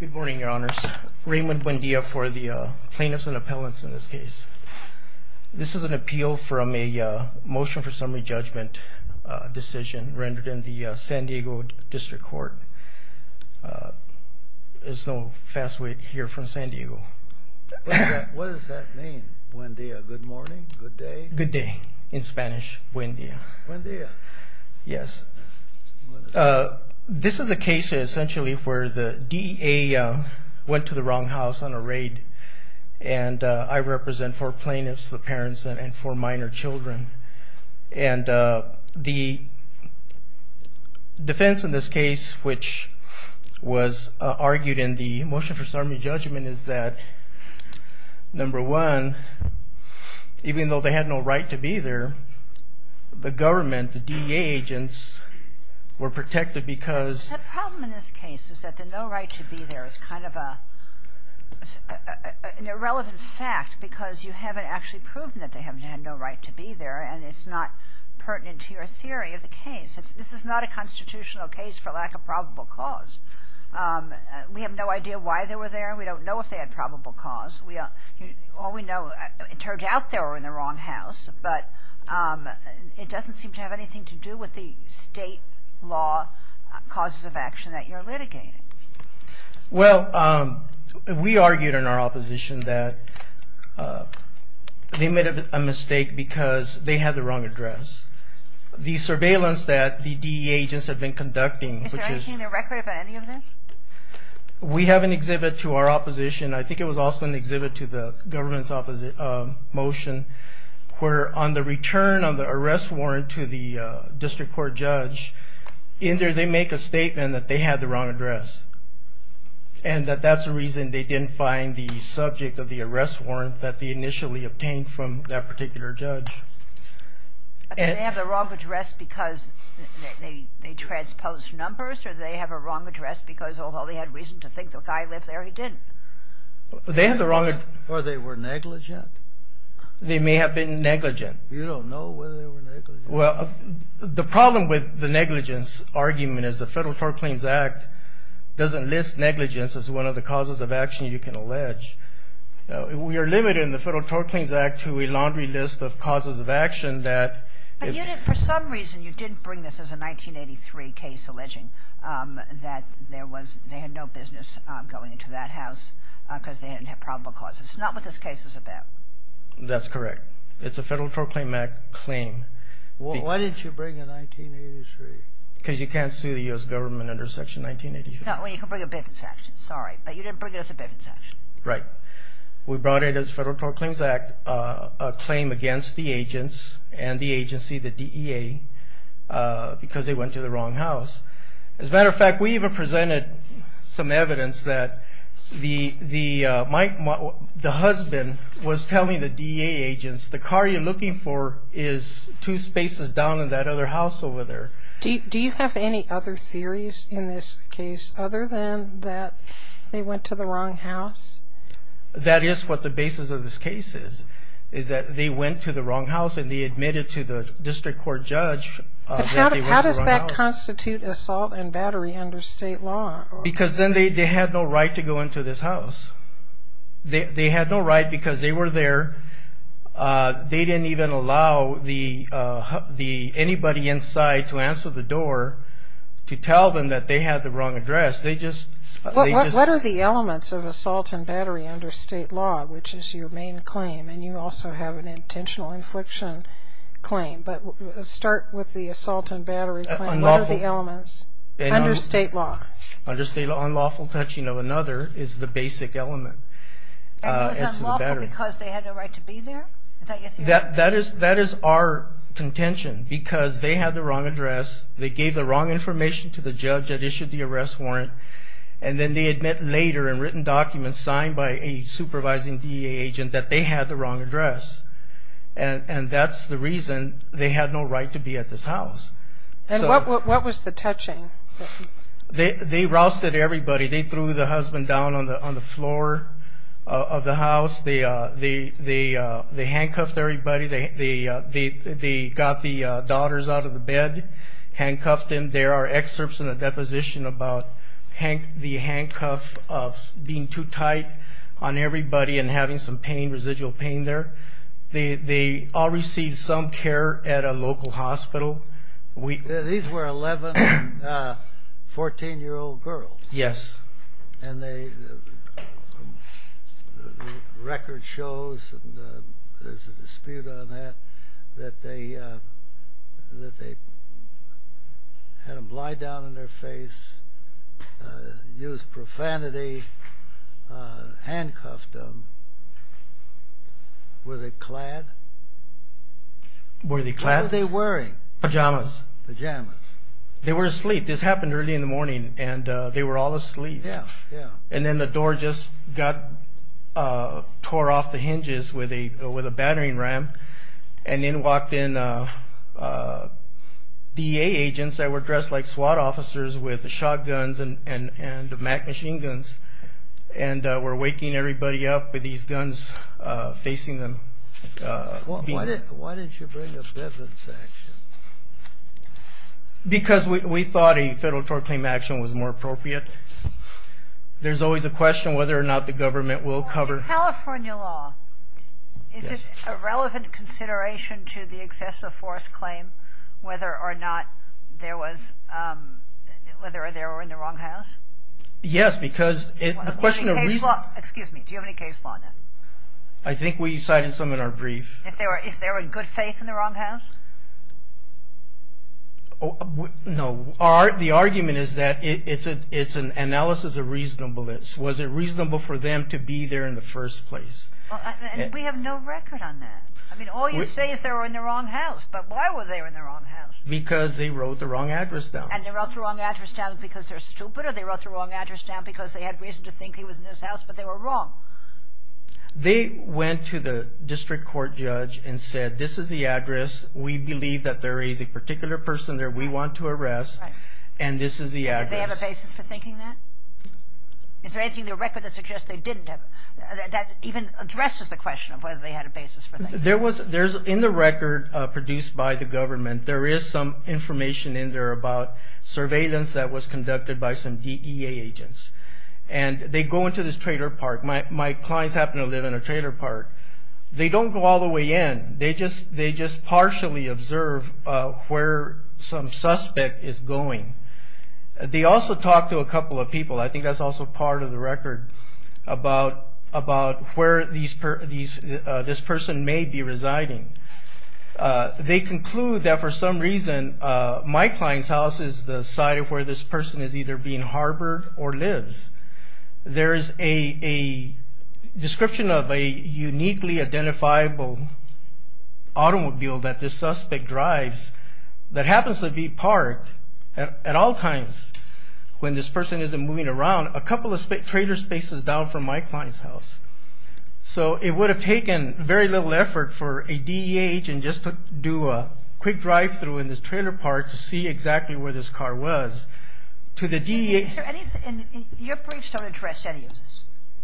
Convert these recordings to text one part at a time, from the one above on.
Good morning, your honors. Raymond Buendia for the plaintiffs and appellants in this case. This is an appeal from a motion for summary judgment decision rendered in the San Diego District Court. There's no fast way to hear from San Diego. What does that mean, Buendia? Good morning? Good day? Good day in Spanish, Buendia. Buendia. Yes. This is a case essentially where the DEA went to the wrong house on a raid. And I represent four plaintiffs, the parents, and four minor children. And the defense in this case, which was argued in the motion for summary judgment, is that number one, even though they had no right to be there, the government, the DEA agents, were protected because... The problem in this case is that the no right to be there is kind of an irrelevant fact because you haven't actually proven that they had no right to be there and it's not pertinent to your theory of the case. This is not a constitutional case for lack of probable cause. We have no idea why they were there. We don't know if they had probable cause. All we know, it turns out they were in the wrong house. But it doesn't seem to have anything to do with the state law causes of action that you're litigating. Well, we argued in our opposition that they made a mistake because they had the wrong address. The surveillance that the DEA agents have been conducting... Is there anything in the record about any of this? We have an exhibit to our opposition. I think it was also an exhibit to the government's motion where on the return of the arrest warrant to the district court judge, in there they make a statement that they had the wrong address. And that that's the reason they didn't find the subject of the arrest warrant that they initially obtained from that particular judge. Did they have the wrong address because they transposed numbers or did they have a wrong address because although they had reason to think the guy lived there, he didn't? They had the wrong address. Or they were negligent? They may have been negligent. You don't know whether they were negligent? Well, the problem with the negligence argument is the Federal Tort Claims Act doesn't list negligence as one of the causes of action you can allege. We are limited in the Federal Tort Claims Act to a laundry list of causes of action that... But you didn't, for some reason, you didn't bring this as a 1983 case alleging that there was, they had no business going into that house because they didn't have probable causes. Not what this case is about. That's correct. It's a Federal Tort Claim Act claim. Why didn't you bring a 1983? Because you can't sue the U.S. government under Section 1983. Well, you can bring a Biffen section. Sorry, but you didn't bring it as a Biffen section. Right. We brought it as Federal Tort Claims Act, a claim against the agents and the agency, the DEA, because they went to the wrong house. As a matter of fact, we even presented some evidence that the husband was telling the DEA agents, the car you're looking for is two spaces down in that other house over there. Do you have any other theories in this case other than that they went to the wrong house? That is what the basis of this case is, is that they went to the wrong house and they admitted to the district court judge that they went to the wrong house. But how does that constitute assault and battery under state law? Because then they had no right to go into this house. They had no right because they were there. They didn't even allow anybody inside to answer the door to tell them that they had the wrong address. What are the elements of assault and battery under state law, which is your main claim, and you also have an intentional infliction claim, but start with the assault and battery claim. What are the elements under state law? Under state law, unlawful touching of another is the basic element. And it was unlawful because they had no right to be there? That is our contention, because they had the wrong address, they gave the wrong information to the judge that issued the arrest warrant, and then they admit later in written documents signed by a supervising DEA agent that they had the wrong address. And that's the reason they had no right to be at this house. And what was the touching? They rousted everybody. They threw the husband down on the floor of the house. They handcuffed everybody. They got the daughters out of the bed, handcuffed them. There are excerpts in the deposition about the handcuffs being too tight on everybody and having some residual pain there. They all received some care at a local hospital. These were 11, 14-year-old girls? Yes. And the record shows, and there's a dispute on that, that they had them lie down on their face, used profanity, handcuffed them. Were they clad? Were they clad? What were they wearing? Pajamas. Pajamas. They were asleep. This happened early in the morning, and they were all asleep. Yeah, yeah. And then the door just got tore off the hinges with a battering ram, and then walked in DEA agents that were dressed like SWAT officers with shotguns and machine guns, and were waking everybody up with these guns, facing them. Why didn't you bring a Bivens action? Because we thought a federal tort claim action was more appropriate. There's always a question whether or not the government will cover... In California law, is it a relevant consideration to the excessive force claim whether or not there was, whether they were in the wrong house? Yes, because the question of reason... Excuse me, do you have any case law on that? I think we cited some in our brief. If they were in good is that it's an analysis of reasonableness. Was it reasonable for them to be there in the first place? And we have no record on that. I mean, all you say is they were in the wrong house, but why were they in the wrong house? Because they wrote the wrong address down. And they wrote the wrong address down because they're stupid, or they wrote the wrong address down because they had reason to think he was in his house, but they were wrong. They went to the district court judge and said, this is the address. We believe that there is a particular person there we want to arrest, and this is the address. Did they have a basis for thinking that? Is there anything in the record that suggests they didn't have... That even addresses the question of whether they had a basis for thinking that? In the record produced by the government, there is some information in there about surveillance that was conducted by some DEA agents. And they go into this trailer park. My clients happen to live in a trailer park. They don't go all the way in. They just partially observe where some suspect is going. They also talk to a couple of people. I think that's also part of the record about where this person may be residing. They conclude that for some reason, my client's house is the site of where this person is either being harbored or lives. There is a description of a uniquely identifiable automobile that this suspect drives that happens to be parked at all times when this person isn't moving around a couple of trailer spaces down from my client's house. So it would have taken very little effort for a DEA agent just to do a quick drive through in this trailer park to see exactly where this car was. To the DEA... Your briefs don't address any of this,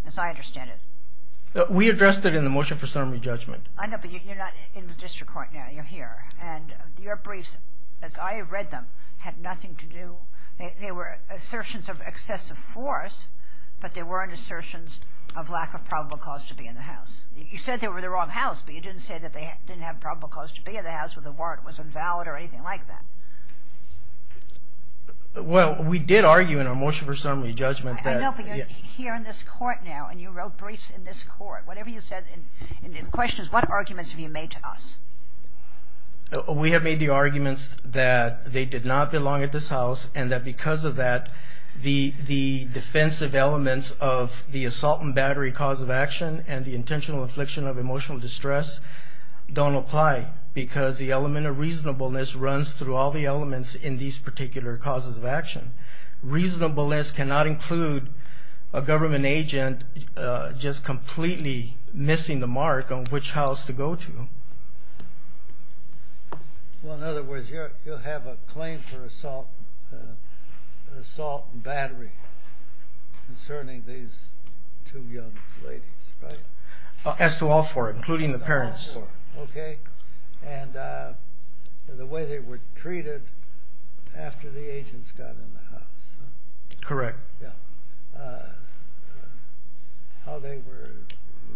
as I understand it. We addressed it in the motion for summary judgment. I know, but you're not in the district court now. You're here. And your briefs, as I read them, had nothing to do... They were assertions of excessive force, but they weren't assertions of lack of probable cause to be in the house. You said they were the wrong house, but you didn't say that they didn't have probable cause to be in the house or the warrant was invalid or anything like that. Well, we did argue in our motion for summary judgment that... I know, but you're here in this court now and you wrote briefs in this court. Whatever you said in the questions, what arguments have you made to us? We have made the arguments that they did not belong at this house and that because of that, the defensive elements of the assault and battery cause of action and the intentional affliction of emotional distress don't apply because the element of reasonableness runs through all the elements in these particular causes of action. Reasonableness cannot include a government agent just completely missing the mark on which house to go to. Well, in other words, you'll have a claim for assault and battery concerning these two young ladies, right? As to all four, including the parents. Okay, and the way they were treated after the agents got in the house. Correct. How they were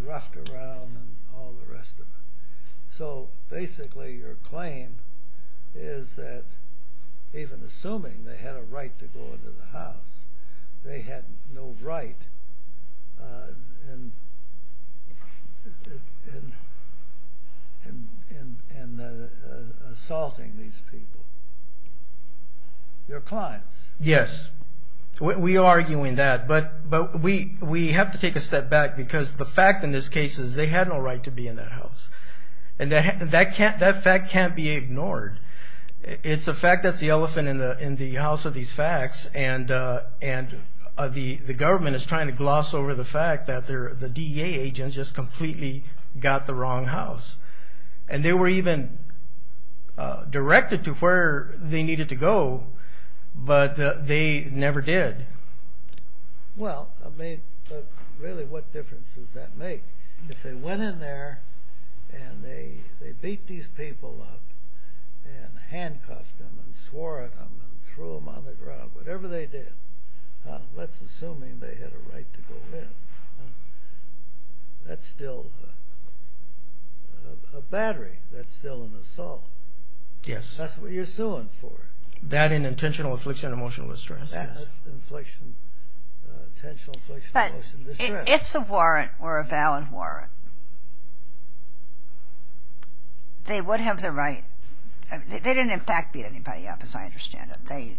roughed around and all the rest of it. So basically, your claim is that even assuming they had a right to go into the house, they had no right in assaulting these people, your clients. Yes, we are arguing that, but we have to take a step back because the fact in this case is they had no right to be in that house. And that fact can't be ignored. It's a fact that's the elephant in the house of these facts, and the government is trying to gloss over the fact that the DEA agents just completely got the wrong house. And they were even directed to where they needed to go, but they never did. Well, really, what difference does that make? If they went in there and they beat these people up and handcuffed them and swore at them and threw them on the ground, whatever they did, that's assuming they had a right to go in. That's still a battery. That's still an assault. Yes. That's what you're suing for. That and intentional infliction of emotional distress. That's intentional infliction of emotional distress. If the warrant were a valid warrant, they would have the right. They didn't, in fact, beat anybody up, as I understand it. They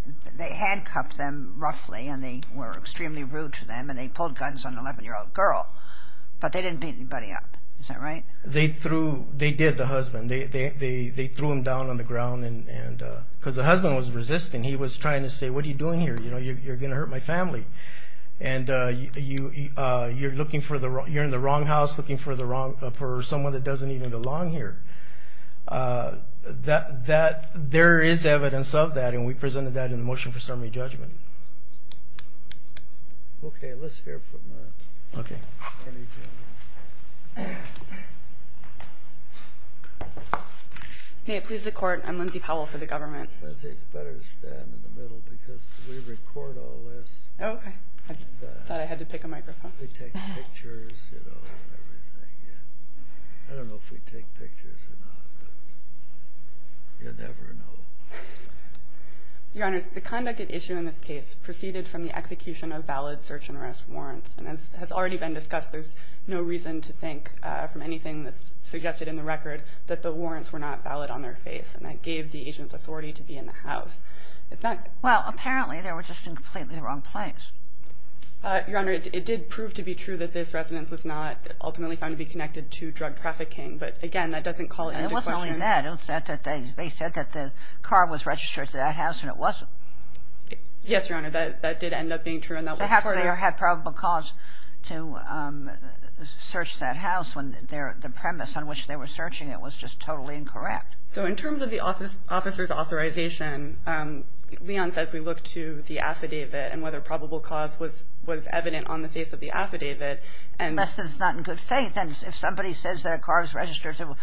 handcuffed them, roughly, and they were extremely rude to them, and they pulled guns on an 11-year-old girl, but they didn't beat anybody up. Is that right? They threw, they did, the husband. They threw him down on the ground, because the husband was resisting. He was trying to say, what are you doing here? You're going to you're in the wrong house, looking for someone that doesn't even belong here. There is evidence of that, and we presented that in the motion for summary judgment. Okay, let's hear from... Hey, it pleases the court. I'm Lindsay Powell for the government. Lindsay, it's better to stand in the middle, because we record all this. Okay. I thought I had to pick a microphone. Pictures, you know, everything. Yeah. I don't know if we take pictures or not, but you never know. Your Honor, the conducted issue in this case proceeded from the execution of valid search and arrest warrants, and as has already been discussed, there's no reason to think, from anything that's suggested in the record, that the warrants were not valid on their face, and that gave the agent's authority to be in the house. It's not... Well, apparently, they were just in completely the wrong place. Your Honor, it did prove to be true that this residence was not ultimately found to be connected to drug trafficking, but again, that doesn't call into question... And it wasn't only that. They said that the car was registered to that house, and it wasn't. Yes, Your Honor, that did end up being true, and that was part of... Perhaps they had probable cause to search that house when the premise on which they were searching it was just totally incorrect. So in terms of the officer's authorization, Leon says we look to the affidavit and whether probable cause was evident on the face of the affidavit, and... Unless it's not in good faith, and if somebody says that a car is registered to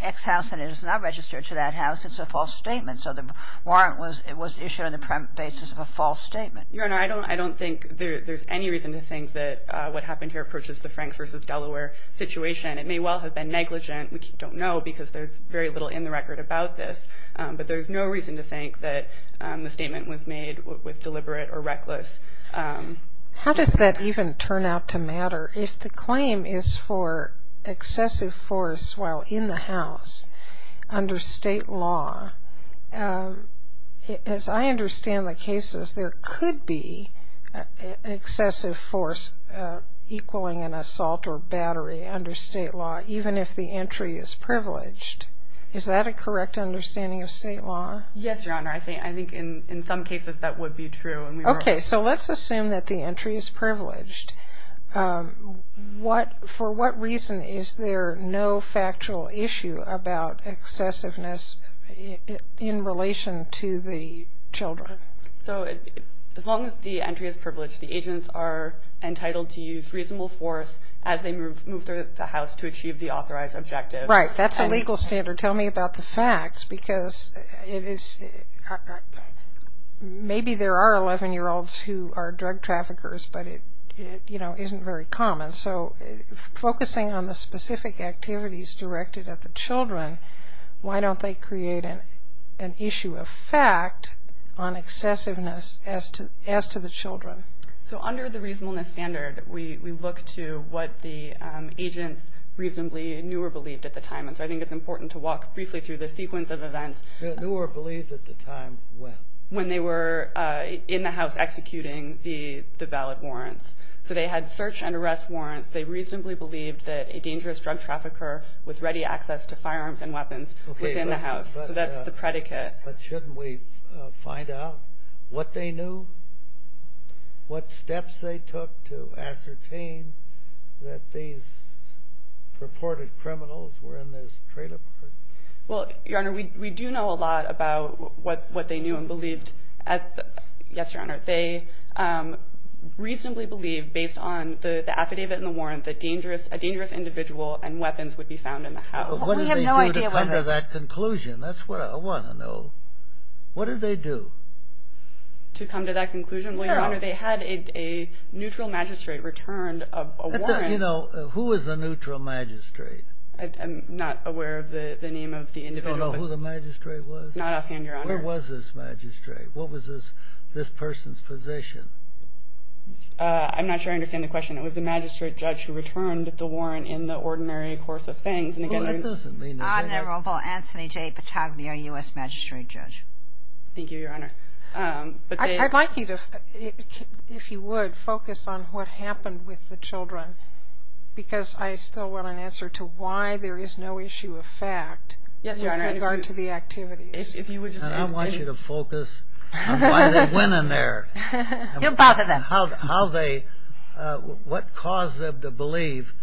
X house and it is not registered to that house, it's a false statement. So the warrant was issued on the basis of a false statement. Your Honor, I don't think there's any reason to think that what happened here approaches the Franks v. Delaware situation. It may well have been negligent. We don't know, because there's very little in the record about this, but there's no reason to think that the statement was made with deliberate or reckless... How does that even turn out to matter? If the claim is for excessive force while in the house under state law, as I understand the cases, there could be excessive force equaling an assault or battery under state law, even if the entry is privileged. Is that a correct understanding of state law? Yes, Your Honor. I think in some cases that would be true. Okay. So let's assume that the entry is privileged. For what reason is there no factual issue about excessiveness in relation to the children? So as long as the entry is privileged, the agents are entitled to use reasonable force as they move through the house to achieve the authorized objective. Right. That's a legal standard. Tell me about the facts, because maybe there are 11-year-olds who are drug traffickers, but it isn't very common. So focusing on the specific activities directed at the children, why don't they create an issue of fact on excessiveness as to the children? So under the reasonableness standard, we look to what the agents reasonably knew or believed at the time. And so I think it's important to walk briefly through the sequence of events. Knew or believed at the time when? When they were in the house executing the valid warrants. So they had search and arrest warrants. They reasonably believed that a dangerous drug trafficker with ready access to firearms and weapons was in the house. So that's the predicate. But shouldn't we find out what they knew? What steps they took to ascertain that these purported criminals were in this trailer park? Well, Your Honor, we do know a lot about what they knew and believed. Yes, Your Honor. They reasonably believed, based on the affidavit and the warrant, that a dangerous individual and weapons would be found in the house. What did they do to come to that conclusion? That's what I want to know. What did they do? To come to that conclusion? Well, Your Honor, they had a neutral magistrate return a warrant. You know, who was the neutral magistrate? I'm not aware of the name of the individual. You don't know who the magistrate was? Not offhand, Your Honor. Where was this magistrate? What was this person's position? I'm not sure I understand the question. It was a magistrate judge who returned the warrant in the ordinary course of things. Well, it doesn't mean that they... Honorable Anthony J. Patagnia, U.S. Magistrate Judge. Thank you, Your Honor. I'd like you to, if you would, focus on what happened with the children, because I still want an answer to why there is no issue of fact... Yes, Your Honor. ...with regard to the activities. If you would just... I want you to focus on why they went in there. You're both of them. How they... What caused them to believe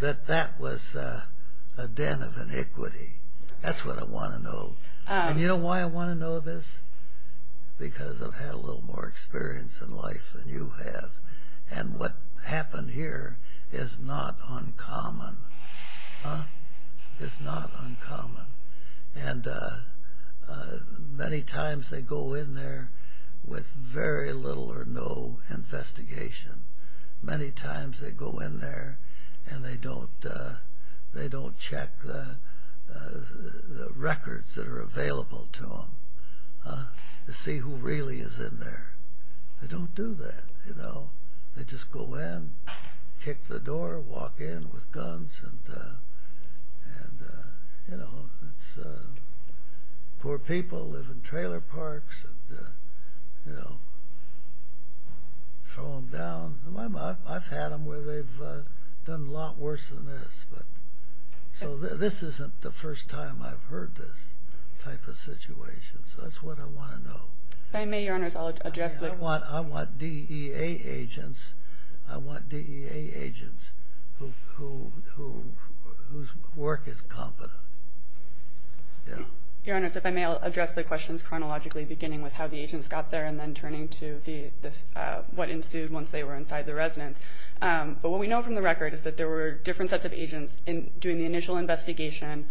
that that was a den of iniquity? That's what I want to know. And you know why I want to know this? Because I've had a little more experience in life than you have. And what happened here is not uncommon. Huh? It's not uncommon. And many times they go in there with very little or no investigation. Many times they go in there and they don't check the records that are available to them to see who really is in there. They don't do that, you know. They just go in, kick the door, walk in with guns. And you know, it's... Poor people live in trailer parks and, you know. Throw them down. I've had them where they've done a lot worse than this, but... So this isn't the first time I've heard this type of situation. So that's what I want to know. If I may, Your Honor, I'll address the... I want DEA agents. I want DEA agents whose work is competent. Yeah. Your Honor, if I may, I'll address the questions chronologically, beginning with how the agents got there and then turning to what ensued once they were inside the residence. But what we know from the record is that there were different sets of agents doing the initial investigation,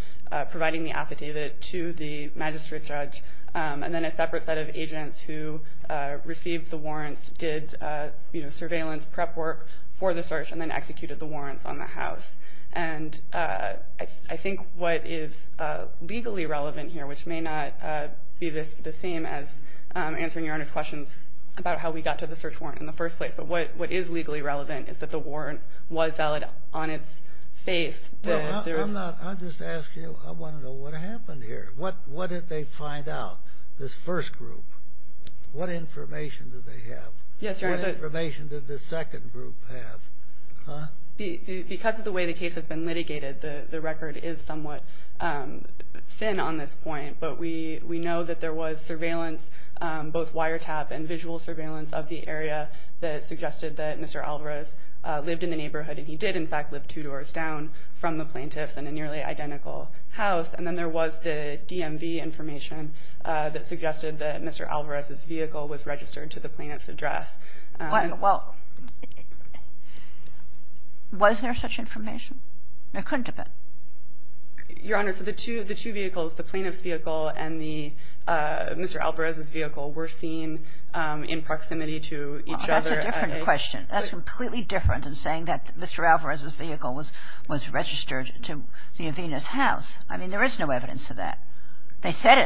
providing the affidavit to the magistrate judge. And then a separate set of agents who received the warrants did, you know, surveillance prep work for the search and then executed the warrants on the house. And I think what is legally relevant here, which may not be the same as answering Your Honor's question about how we got to the search warrant in the first place, but what is legally relevant is that the warrant was valid on its face. I'm just asking you, I want to know what happened here. What did they find out, this first group? What information did they have? Yes, Your Honor. What information did the second group have? Huh? Because of the way the case has been litigated, the record is somewhat thin on this point. But we know that there was surveillance, both wiretap and visual surveillance of the area that suggested that Mr. Alvarez lived in the neighborhood. And he did, in fact, live two doors down from the plaintiffs in a nearly identical house. And then there was the DMV information that suggested that Mr. Alvarez's vehicle was registered to the plaintiff's address. Well, was there such information? There couldn't have been. Your Honor, so the two vehicles, the plaintiff's vehicle and Mr. Alvarez's vehicle were seen in proximity to each other. Well, that's a different question. That's completely different than saying that Mr. Alvarez's vehicle was registered to the Avena's house. I mean, there is no evidence of that. It's not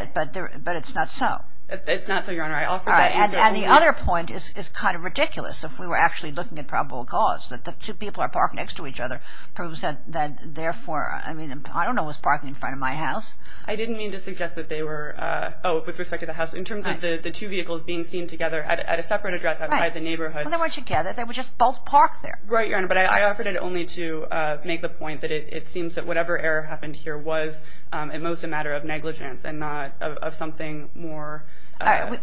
so, Your Honor. And the other point is kind of ridiculous. If we were actually looking at probable cause, that the two people are parked next to each other proves that therefore, I mean, I don't know what's parking in front of my house. I didn't mean to suggest that they were, oh, with respect to the house. In terms of the two vehicles being seen together at a separate address outside the neighborhood. They weren't together. They were just both parked there. Right, Your Honor. But I offered it only to make the point that it seems that whatever error happened here was at most a matter of negligence and not of something more.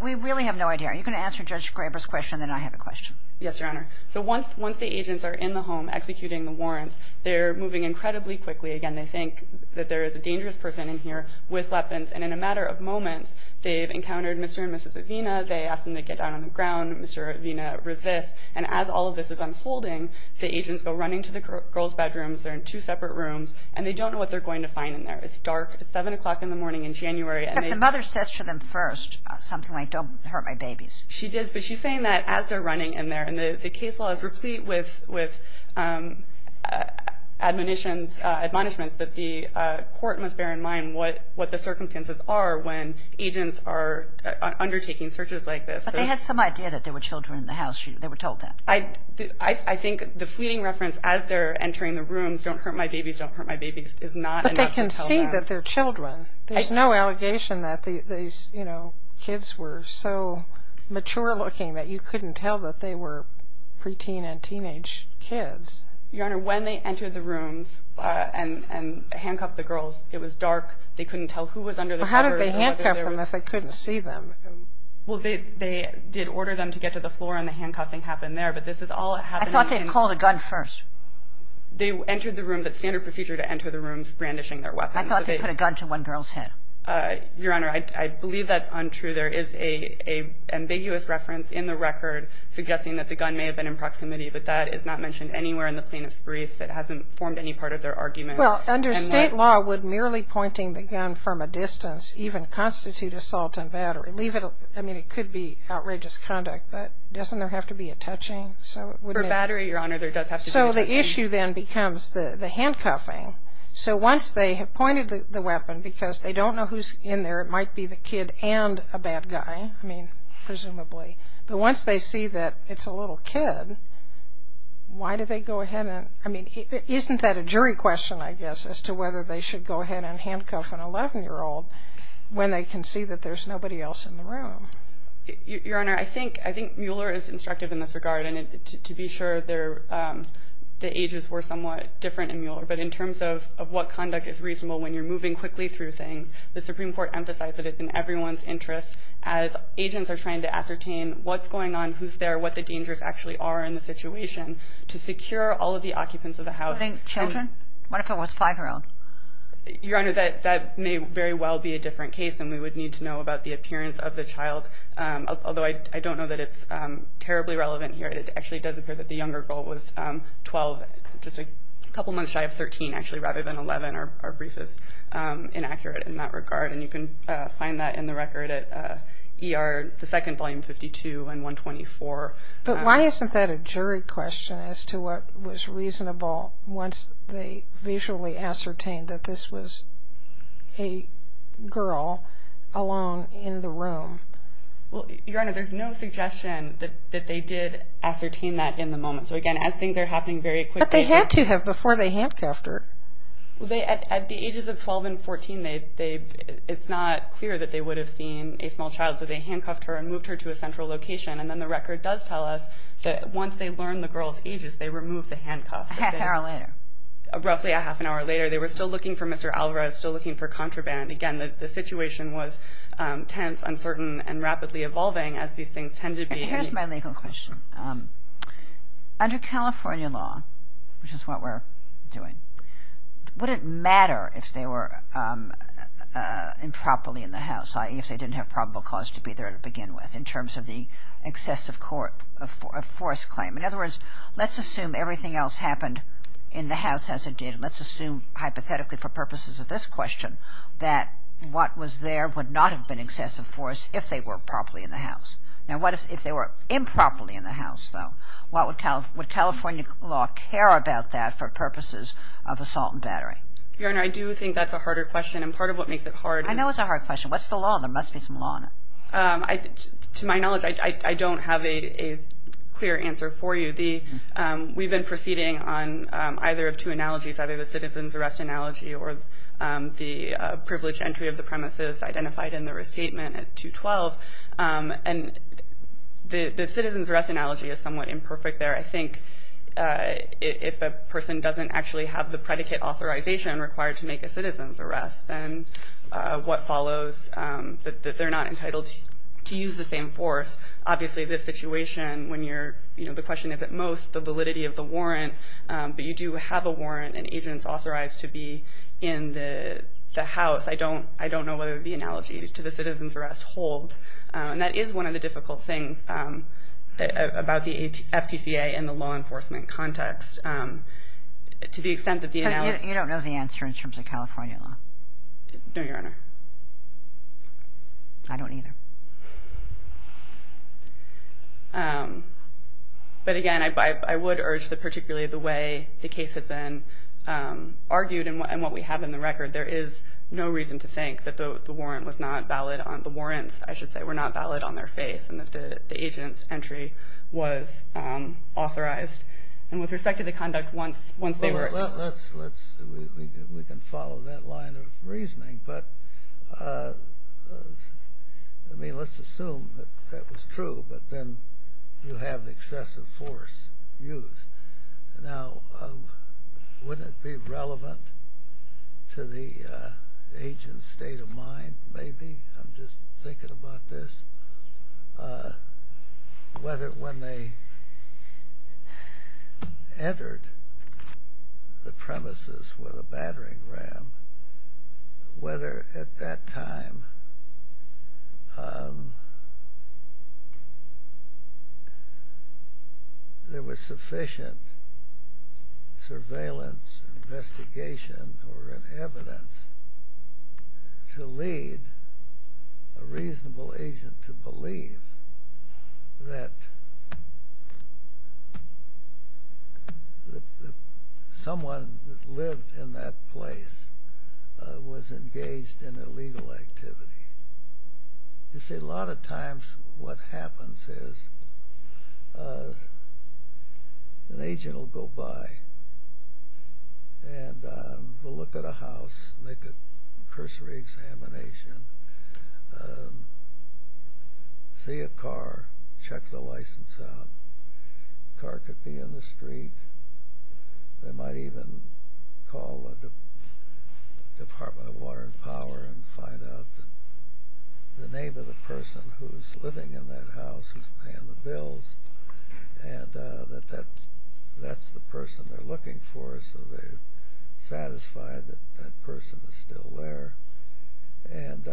We really have no idea. Are you going to answer Judge Graber's question and then I have a question? Yes, Your Honor. So once the agents are in the home executing the warrants, they're moving incredibly quickly. Again, they think that there is a dangerous person in here with weapons. And in a matter of moments, they've encountered Mr. and Mrs. Avena. They asked them to get down on the ground. Mr. Avena resists. And as all of this is unfolding, the agents go running to the girls' bedrooms. They're in two separate rooms. And they don't know what they're going to find in there. It's dark. It's 7 o'clock in the morning in January. The mother says to them first something like, don't hurt my babies. She does. But she's saying that as they're running in there. And the case law is replete with admonitions, admonishments that the court must bear in mind what the circumstances are when agents are undertaking searches like this. But they had some idea that there were children in the house. They were told that. I think the fleeting reference as they're entering the rooms, don't hurt my babies, don't hurt my babies, is not enough to tell them. But they can see that they're children. There's no allegation that these kids were so mature-looking that you couldn't tell that they were pre-teen and teenage kids. Your Honor, when they entered the rooms and handcuffed the girls, it was dark. They couldn't tell who was under the covers. How did they handcuff them if they couldn't see them? Well, they did order them to get to the floor. And the handcuffing happened there. But this is all happening. I thought they had called a gun first. They entered the room. That's standard procedure to enter the rooms, brandishing their weapons. I thought they put a gun to one girl's head. Your Honor, I believe that's untrue. There is an ambiguous reference in the record suggesting that the gun may have been in proximity. But that is not mentioned anywhere in the plaintiff's brief. It hasn't formed any part of their argument. Well, under State law, would merely pointing the gun from a distance even constitute assault and battery? Leave it. I mean, it could be outrageous conduct. But doesn't there have to be a touching? So it wouldn't be. For battery, Your Honor, there does have to be a touching. So the issue then becomes the handcuffing. So once they have pointed the weapon, because they don't know who's in there, it might be the kid and a bad guy, I mean, presumably. But once they see that it's a little kid, why do they go ahead and, I mean, isn't that a jury question, I guess, as to whether they should go ahead and handcuff an 11-year-old when they can see that there's nobody else in the room? Your Honor, I think Mueller is instructive in this regard. And to be sure, the ages were somewhat different in Mueller. But in terms of what conduct is reasonable when you're moving quickly through things, the Supreme Court emphasized that it's in everyone's interest, as agents are trying to ascertain what's going on, who's there, what the dangers actually are in the situation, to secure all of the occupants of the house. Including children? What if it was a 5-year-old? Your Honor, that may very well be a different case. And we would need to know about the appearance of the child. Although I don't know that it's terribly relevant here. It actually does appear that the younger girl was 12, just a couple months shy of 13, actually, rather than 11. Our brief is inaccurate in that regard. And you can find that in the record at ER, the second volume, 52 and 124. But why isn't that a jury question as to what was reasonable once they visually ascertained that this was a girl alone in the room? Well, Your Honor, there's no suggestion that they did ascertain that in the moment. So again, as things are happening very quickly. But they had to have before they handcuffed her. Well, at the ages of 12 and 14, it's not clear that they would have seen a small child. So they handcuffed her and moved her to a central location. And then the record does tell us that once they learned the girl's ages, they removed the handcuff. A half hour later. Roughly a half an hour later. They were still looking for Mr. Alvarez, still looking for contraband. Again, the situation was tense, uncertain, and rapidly evolving, as these things tend to be. And here's my legal question. Under California law, which is what we're doing, would it matter if they were improperly in the house, i.e. if they didn't have probable cause to be there to begin with, in terms of the excessive force claim? In other words, let's assume everything else happened in the house as it did. Let's assume, hypothetically, for purposes of this question, that what was there would not have been excessive force if they were properly in the house. Now, if they were improperly in the house, though, would California law care about that for purposes of assault and battery? Your Honor, I do think that's a harder question. And part of what makes it hard is- I know it's a hard question. What's the law? There must be some law in it. To my knowledge, I don't have a clear answer for you. We've been proceeding on either of two analogies, either the citizen's arrest analogy or the privilege entry of the premises identified in the restatement at 212. And the citizen's arrest analogy is somewhat imperfect there. I think if a person doesn't actually have the predicate authorization required to make a citizen's arrest, then what follows that they're not entitled to use the same force? Obviously, this situation, the question is, at most, the validity of the warrant. But you do have a warrant and agents authorized to be in the house. I don't know what the analogy to the citizen's arrest holds. And that is one of the difficult things about the FTCA and the law enforcement context. To the extent that the analogy- You don't know the answer in terms of California law? No, Your Honor. I don't either. But again, I would urge that particularly the way the case has been argued and what we have in the record, there is no reason to think that the warrant was not valid on- the warrants, I should say, were not valid on their face and that the agent's entry was authorized. And with respect to the conduct once they were- Well, let's- we can follow that line of reasoning. But, I mean, let's assume that that was true. But then you have excessive force used. Now, wouldn't it be relevant to the agent's state of mind, maybe? I'm just thinking about this. Whether when they entered the premises with a battering ram, whether at that time there was sufficient surveillance, investigation, or evidence to lead a reasonable agent to believe that someone that lived in that place was engaged in illegal activity. You see, a lot of times what happens is an agent will go by and will look at a house, make a cursory examination, see a car, check the license out. The car could be in the street. They might even call the Department of Water and Power and find out the name of the person who's living in that house, who's paying the bills, and that that's the person they're satisfied that that person is still there. And, you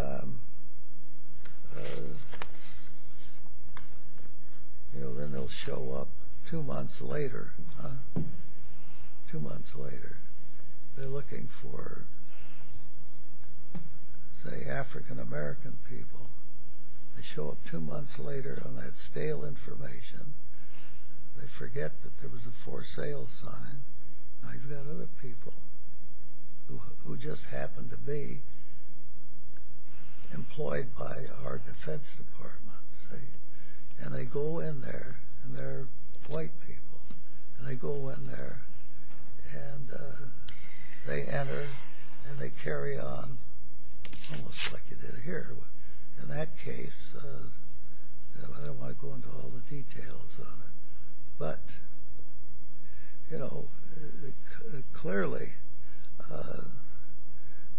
know, then they'll show up two months later. Two months later. They're looking for, say, African-American people. They show up two months later on that stale information. They forget that there was a for sale sign. I've got other people who just happen to be employed by our Defense Department, see. And they go in there and they're white people. And they go in there and they enter and they carry on almost like you did here. In that case, I don't want to go into all the details on it, but, you know, clearly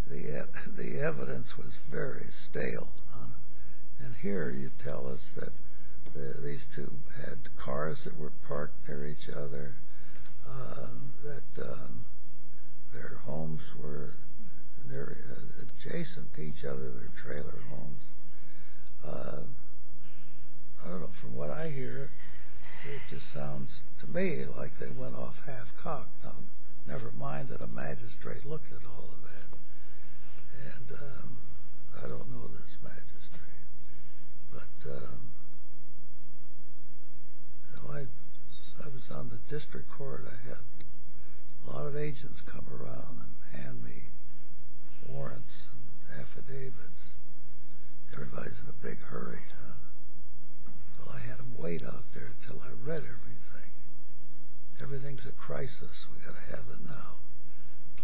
the evidence was very stale. And here you tell us that these two had cars that were parked near each other, that their homes were adjacent to each other, their trailer homes. I don't know. From what I hear, it just sounds to me like they went off half-cocked. Never mind that a magistrate looked at all of that. And I don't know this magistrate. But, you know, I was on the district court. I had a lot of agents come around and hand me warrants and affidavits. Everybody's in a big hurry, huh? Well, I had them wait out there until I read everything. Everything's a crisis. We've got to have it now.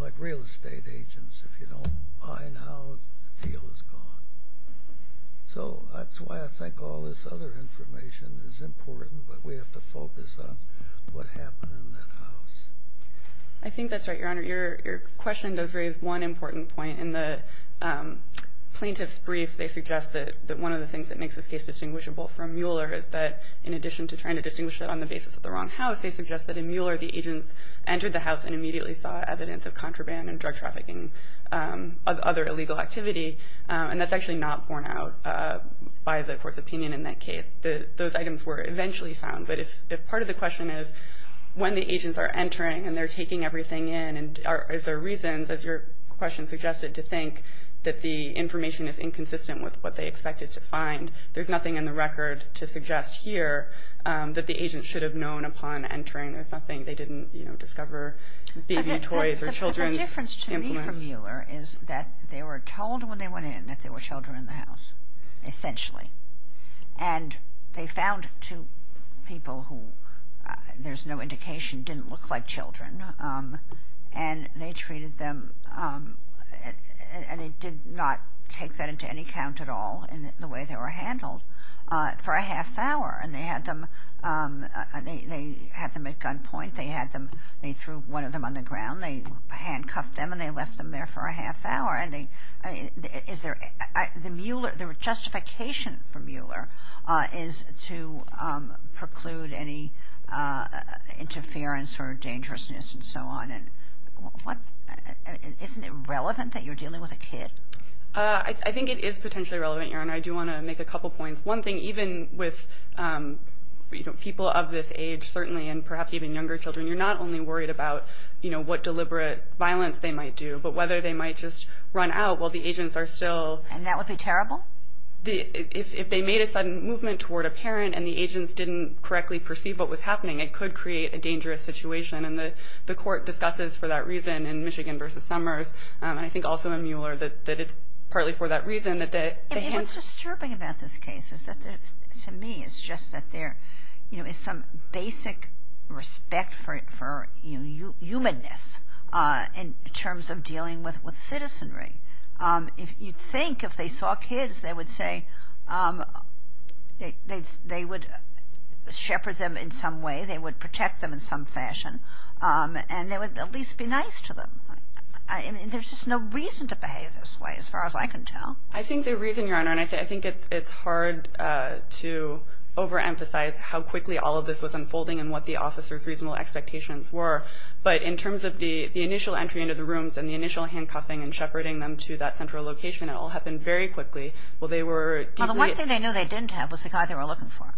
Like real estate agents, if you don't buy now, the deal is gone. So that's why I think all this other information is important, but we have to focus on what happened in that house. I think that's right, Your Honor. Your question does raise one important point. In the plaintiff's brief, they suggest that one of the things that makes this case distinguishable from Mueller is that, in addition to trying to distinguish it on the basis of the wrong house, they suggest that in Mueller, the agents entered the house and immediately saw evidence of contraband and drug trafficking, other illegal activity. And that's actually not borne out by the court's opinion in that case. Those items were eventually found. But if part of the question is when the agents are entering and they're taking everything in, is there a reason, as your question suggested, to think that the information is inconsistent with what they expected to find? There's nothing in the record to suggest here that the agents should have known upon entering. There's nothing. They didn't, you know, discover baby toys or children's implements. But the difference to me from Mueller is that they were told when they went in that there were children in the house, essentially. didn't look like children. And they treated them, and they did not take that into any count at all in the way they were handled, for a half hour. And they had them at gunpoint. They had them. They threw one of them on the ground. They handcuffed them, and they left them there for a half hour. And the justification for Mueller is to preclude any interference or dangerousness and so on. And isn't it relevant that you're dealing with a kid? I think it is potentially relevant, Erin. I do want to make a couple points. One thing, even with people of this age, certainly, and perhaps even younger children, you're not only worried about, you know, what deliberate violence they might do, but whether they might just run out while the agents are still... And that would be terrible? If they made a sudden movement toward a parent and the agents didn't correctly perceive what was happening, it could create a dangerous situation. And the court discusses, for that reason, in Michigan v. Summers, and I think also in Mueller, that it's partly for that reason that... And what's disturbing about this case is that, to me, it's just that there is some basic respect for humanness in terms of dealing with citizenry. You'd think if they saw kids, they would say they would shepherd them in some way, they would protect them in some fashion, and they would at least be nice to them. There's just no reason to behave this way, as far as I can tell. I think the reason, Your Honor, and I think it's hard to overemphasize how quickly all of this was unfolding and what the officers' reasonable expectations were, but in terms of the initial entry into the rooms and the initial handcuffing and shepherding them to that central location, it all happened very quickly. Well, the one thing they knew they didn't have was the guy they were looking for.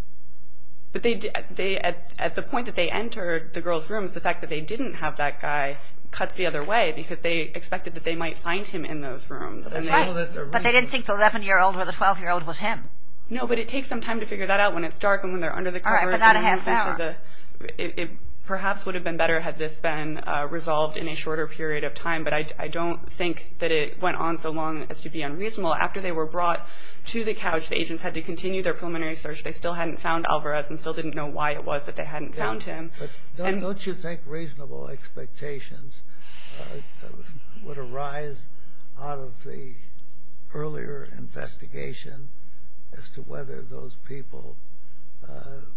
But at the point that they entered the girls' rooms, the fact that they didn't have that guy cuts the other way because they expected that they might find him in those rooms. Right, but they didn't think the 11-year-old or the 12-year-old was him. No, but it takes some time to figure that out when it's dark and when they're under the covers. All right, but not a half hour. It perhaps would have been better had this been resolved in a shorter period of time, but I don't think that it went on so long as to be unreasonable. After they were brought to the couch, the agents had to continue their preliminary search. They still hadn't found Alvarez and still didn't know why it was that they hadn't found him. But don't you think reasonable expectations would arise out of the earlier investigation as to whether those people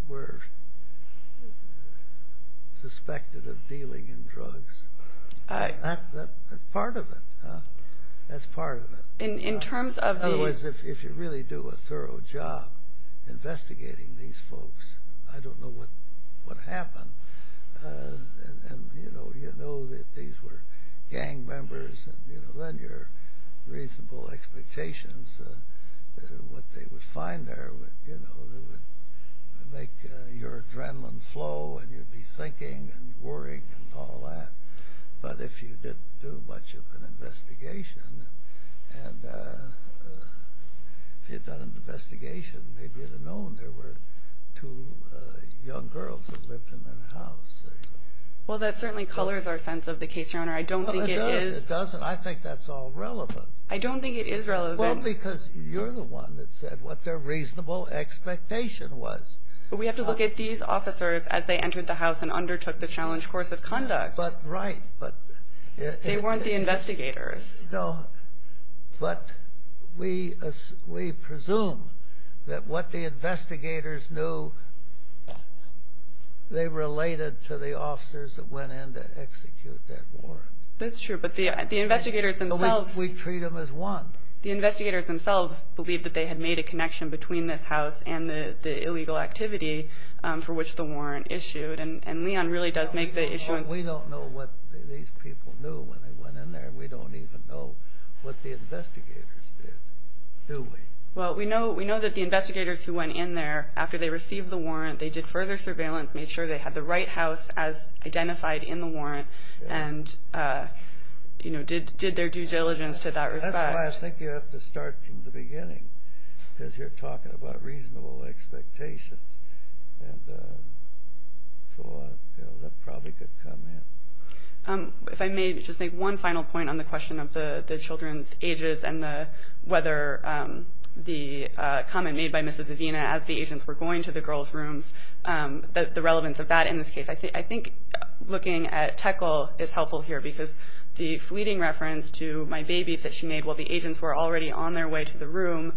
were suspected of dealing in drugs? That's part of it, huh? That's part of it. Otherwise, if you really do a thorough job investigating these folks, I don't know what would happen. And you know that these were gang members and then your reasonable expectations, what they would find there would make your adrenaline flow and you'd be thinking and worrying and all that. But if you didn't do much of an investigation and if you'd done an investigation, maybe you'd have known there were two young girls that lived in that house. Well, that certainly colors our sense of the case, Your Honor. I don't think it is... It doesn't. I think that's all relevant. I don't think it is relevant. Well, because you're the one that said what their reasonable expectation was. We have to look at these officers as they entered the house and undertook the challenge course of conduct. But right, but... They weren't the investigators. No, but we presume that what the investigators knew, they related to the officers that went in to execute that warrant. That's true, but the investigators themselves... We treat them as one. The investigators themselves believed that they had made a connection between this house and the illegal activity for which the warrant issued. And Leon really does make the issuance... We don't know what these people knew when they went in there. We don't even know what the investigators did, do we? Well, we know that the investigators who went in there after they received the warrant, they did further surveillance, made sure they had the right house as identified in the warrant and did their due diligence to that respect. That's why I think you have to start from the beginning because you're talking about reasonable expectations. And so that probably could come in. If I may just make one final point on the question of the children's ages and whether the comment made by Mrs. Avina as the agents were going to the girls' rooms, the relevance of that in this case. I think looking at Teckle is helpful here because the fleeting reference to my babies that she made while the agents were already on their way to the room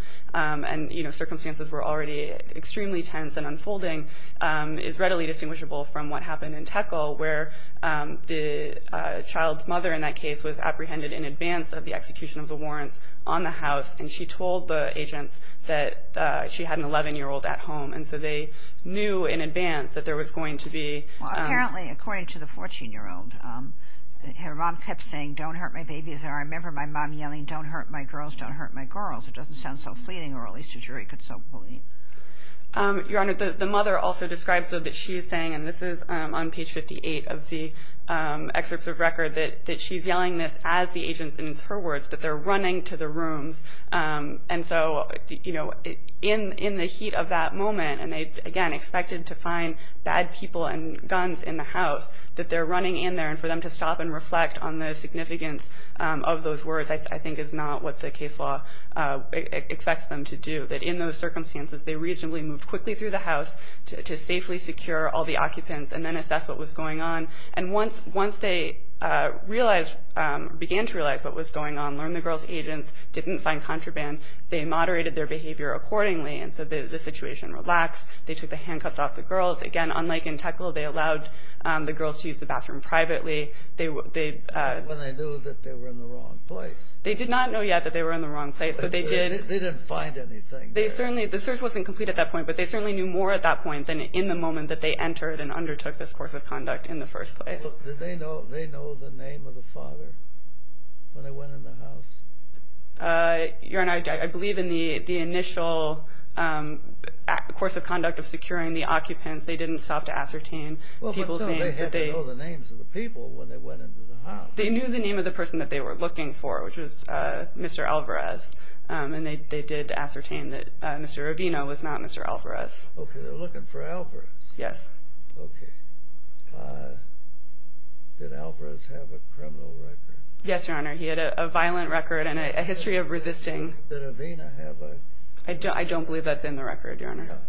is readily distinguishable from what happened in Teckle where the child's mother in that case was apprehended in advance of the execution of the warrants on the house. And she told the agents that she had an 11-year-old at home. And so they knew in advance that there was going to be... Well, apparently, according to the 14-year-old, her mom kept saying, don't hurt my babies. And I remember my mom yelling, don't hurt my girls, don't hurt my girls. It doesn't sound so fleeting or at least a jury could so believe. Your Honor, the mother also describes though that she is saying, and this is on page 58 of the excerpts of record, that she's yelling this as the agents, and it's her words, that they're running to the rooms. And so in the heat of that moment, and they, again, expected to find bad people and guns in the house, that they're running in there. And for them to stop and reflect on the significance of those words, I think is not what the case law expects them to do. That in those circumstances, they reasonably moved quickly through the house to safely secure all the occupants and then assess what was going on. And once they realized, began to realize what was going on, learned the girls' agents, didn't find contraband, they moderated their behavior accordingly. And so the situation relaxed. They took the handcuffs off the girls. Again, unlike in Teklo, they allowed the girls to use the bathroom privately. They... When they knew that they were in the wrong place. They did not know yet that they were in the wrong place, but they did... They didn't find anything. They certainly, the search wasn't complete at that point, but they certainly knew more at that point than in the moment that they entered and undertook this course of conduct in the first place. Look, did they know the name of the father when they went in the house? Your Honor, I believe in the initial course of conduct of securing the occupants, they didn't stop to ascertain people's names. They had to know the names of the people when they went into the house. They knew the name of the person that they were looking for, which was Mr. Alvarez. And they did ascertain that Mr. Avena was not Mr. Alvarez. Okay, they're looking for Alvarez. Yes. Okay. Did Alvarez have a criminal record? Yes, Your Honor. He had a violent record and a history of resisting. Did Avena have a... I don't believe that's in the record, Your Honor.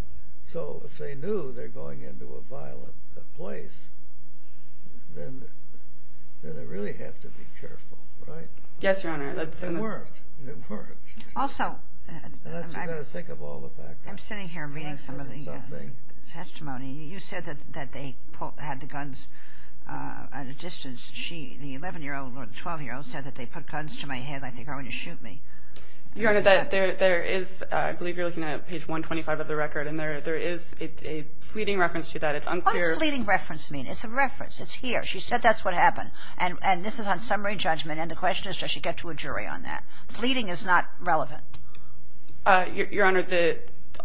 So if they knew they're going into a violent place, then they really have to be careful, right? Yes, Your Honor. It worked. It worked. Also, I'm sitting here reading some of the testimony. You said that they had the guns at a distance. The 11-year-old or the 12-year-old said that they put guns to my head like they're going to shoot me. Your Honor, there is... I believe you're looking at page 125 of the record. And there is a fleeting reference to that. It's unclear... What does fleeting reference mean? It's a reference. It's here. She said that's what happened. And this is on summary judgment. The question is, does she get to a jury on that? Fleeting is not relevant. Your Honor,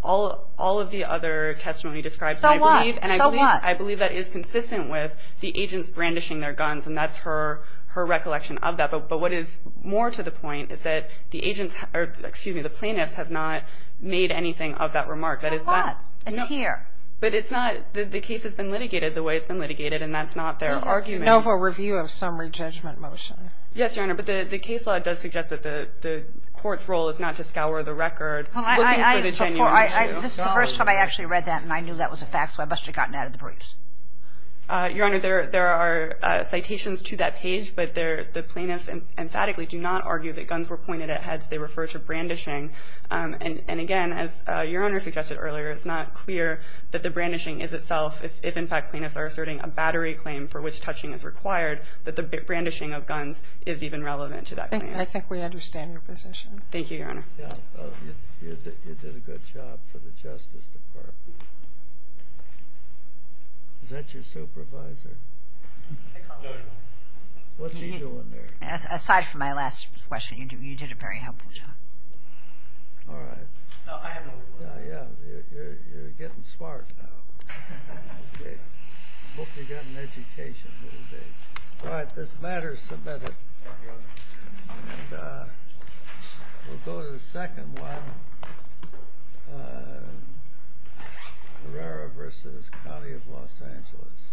all of the other testimony describes... So what? And I believe that is consistent with the agents brandishing their guns. And that's her recollection of that. But what is more to the point is that the agents... Or excuse me, the plaintiffs have not made anything of that remark. That is that... So what? It's here. But it's not... The case has been litigated the way it's been litigated. And that's not their argument. No for review of summary judgment motion. Yes, Your Honor. But the case law does suggest that the court's role is not to scour the record. Well, I... Looking for the genuine issue. This is the first time I actually read that. And I knew that was a fact. So I must have gotten out of the briefs. Your Honor, there are citations to that page. But the plaintiffs emphatically do not argue that guns were pointed at heads. They refer to brandishing. And again, as Your Honor suggested earlier, it's not clear that the brandishing is itself, if in fact plaintiffs are asserting a battery claim for which touching is required, that the brandishing of guns is even relevant to that claim. I think we understand your position. Thank you, Your Honor. Yeah, you did a good job for the Justice Department. Is that your supervisor? What's he doing there? Aside from my last question, you did a very helpful job. All right. No, I have no... Yeah, you're getting smart now. Okay. Hope you got an education. All right. This matter is submitted. And we'll go to the second one. Herrera v. County of Los Angeles.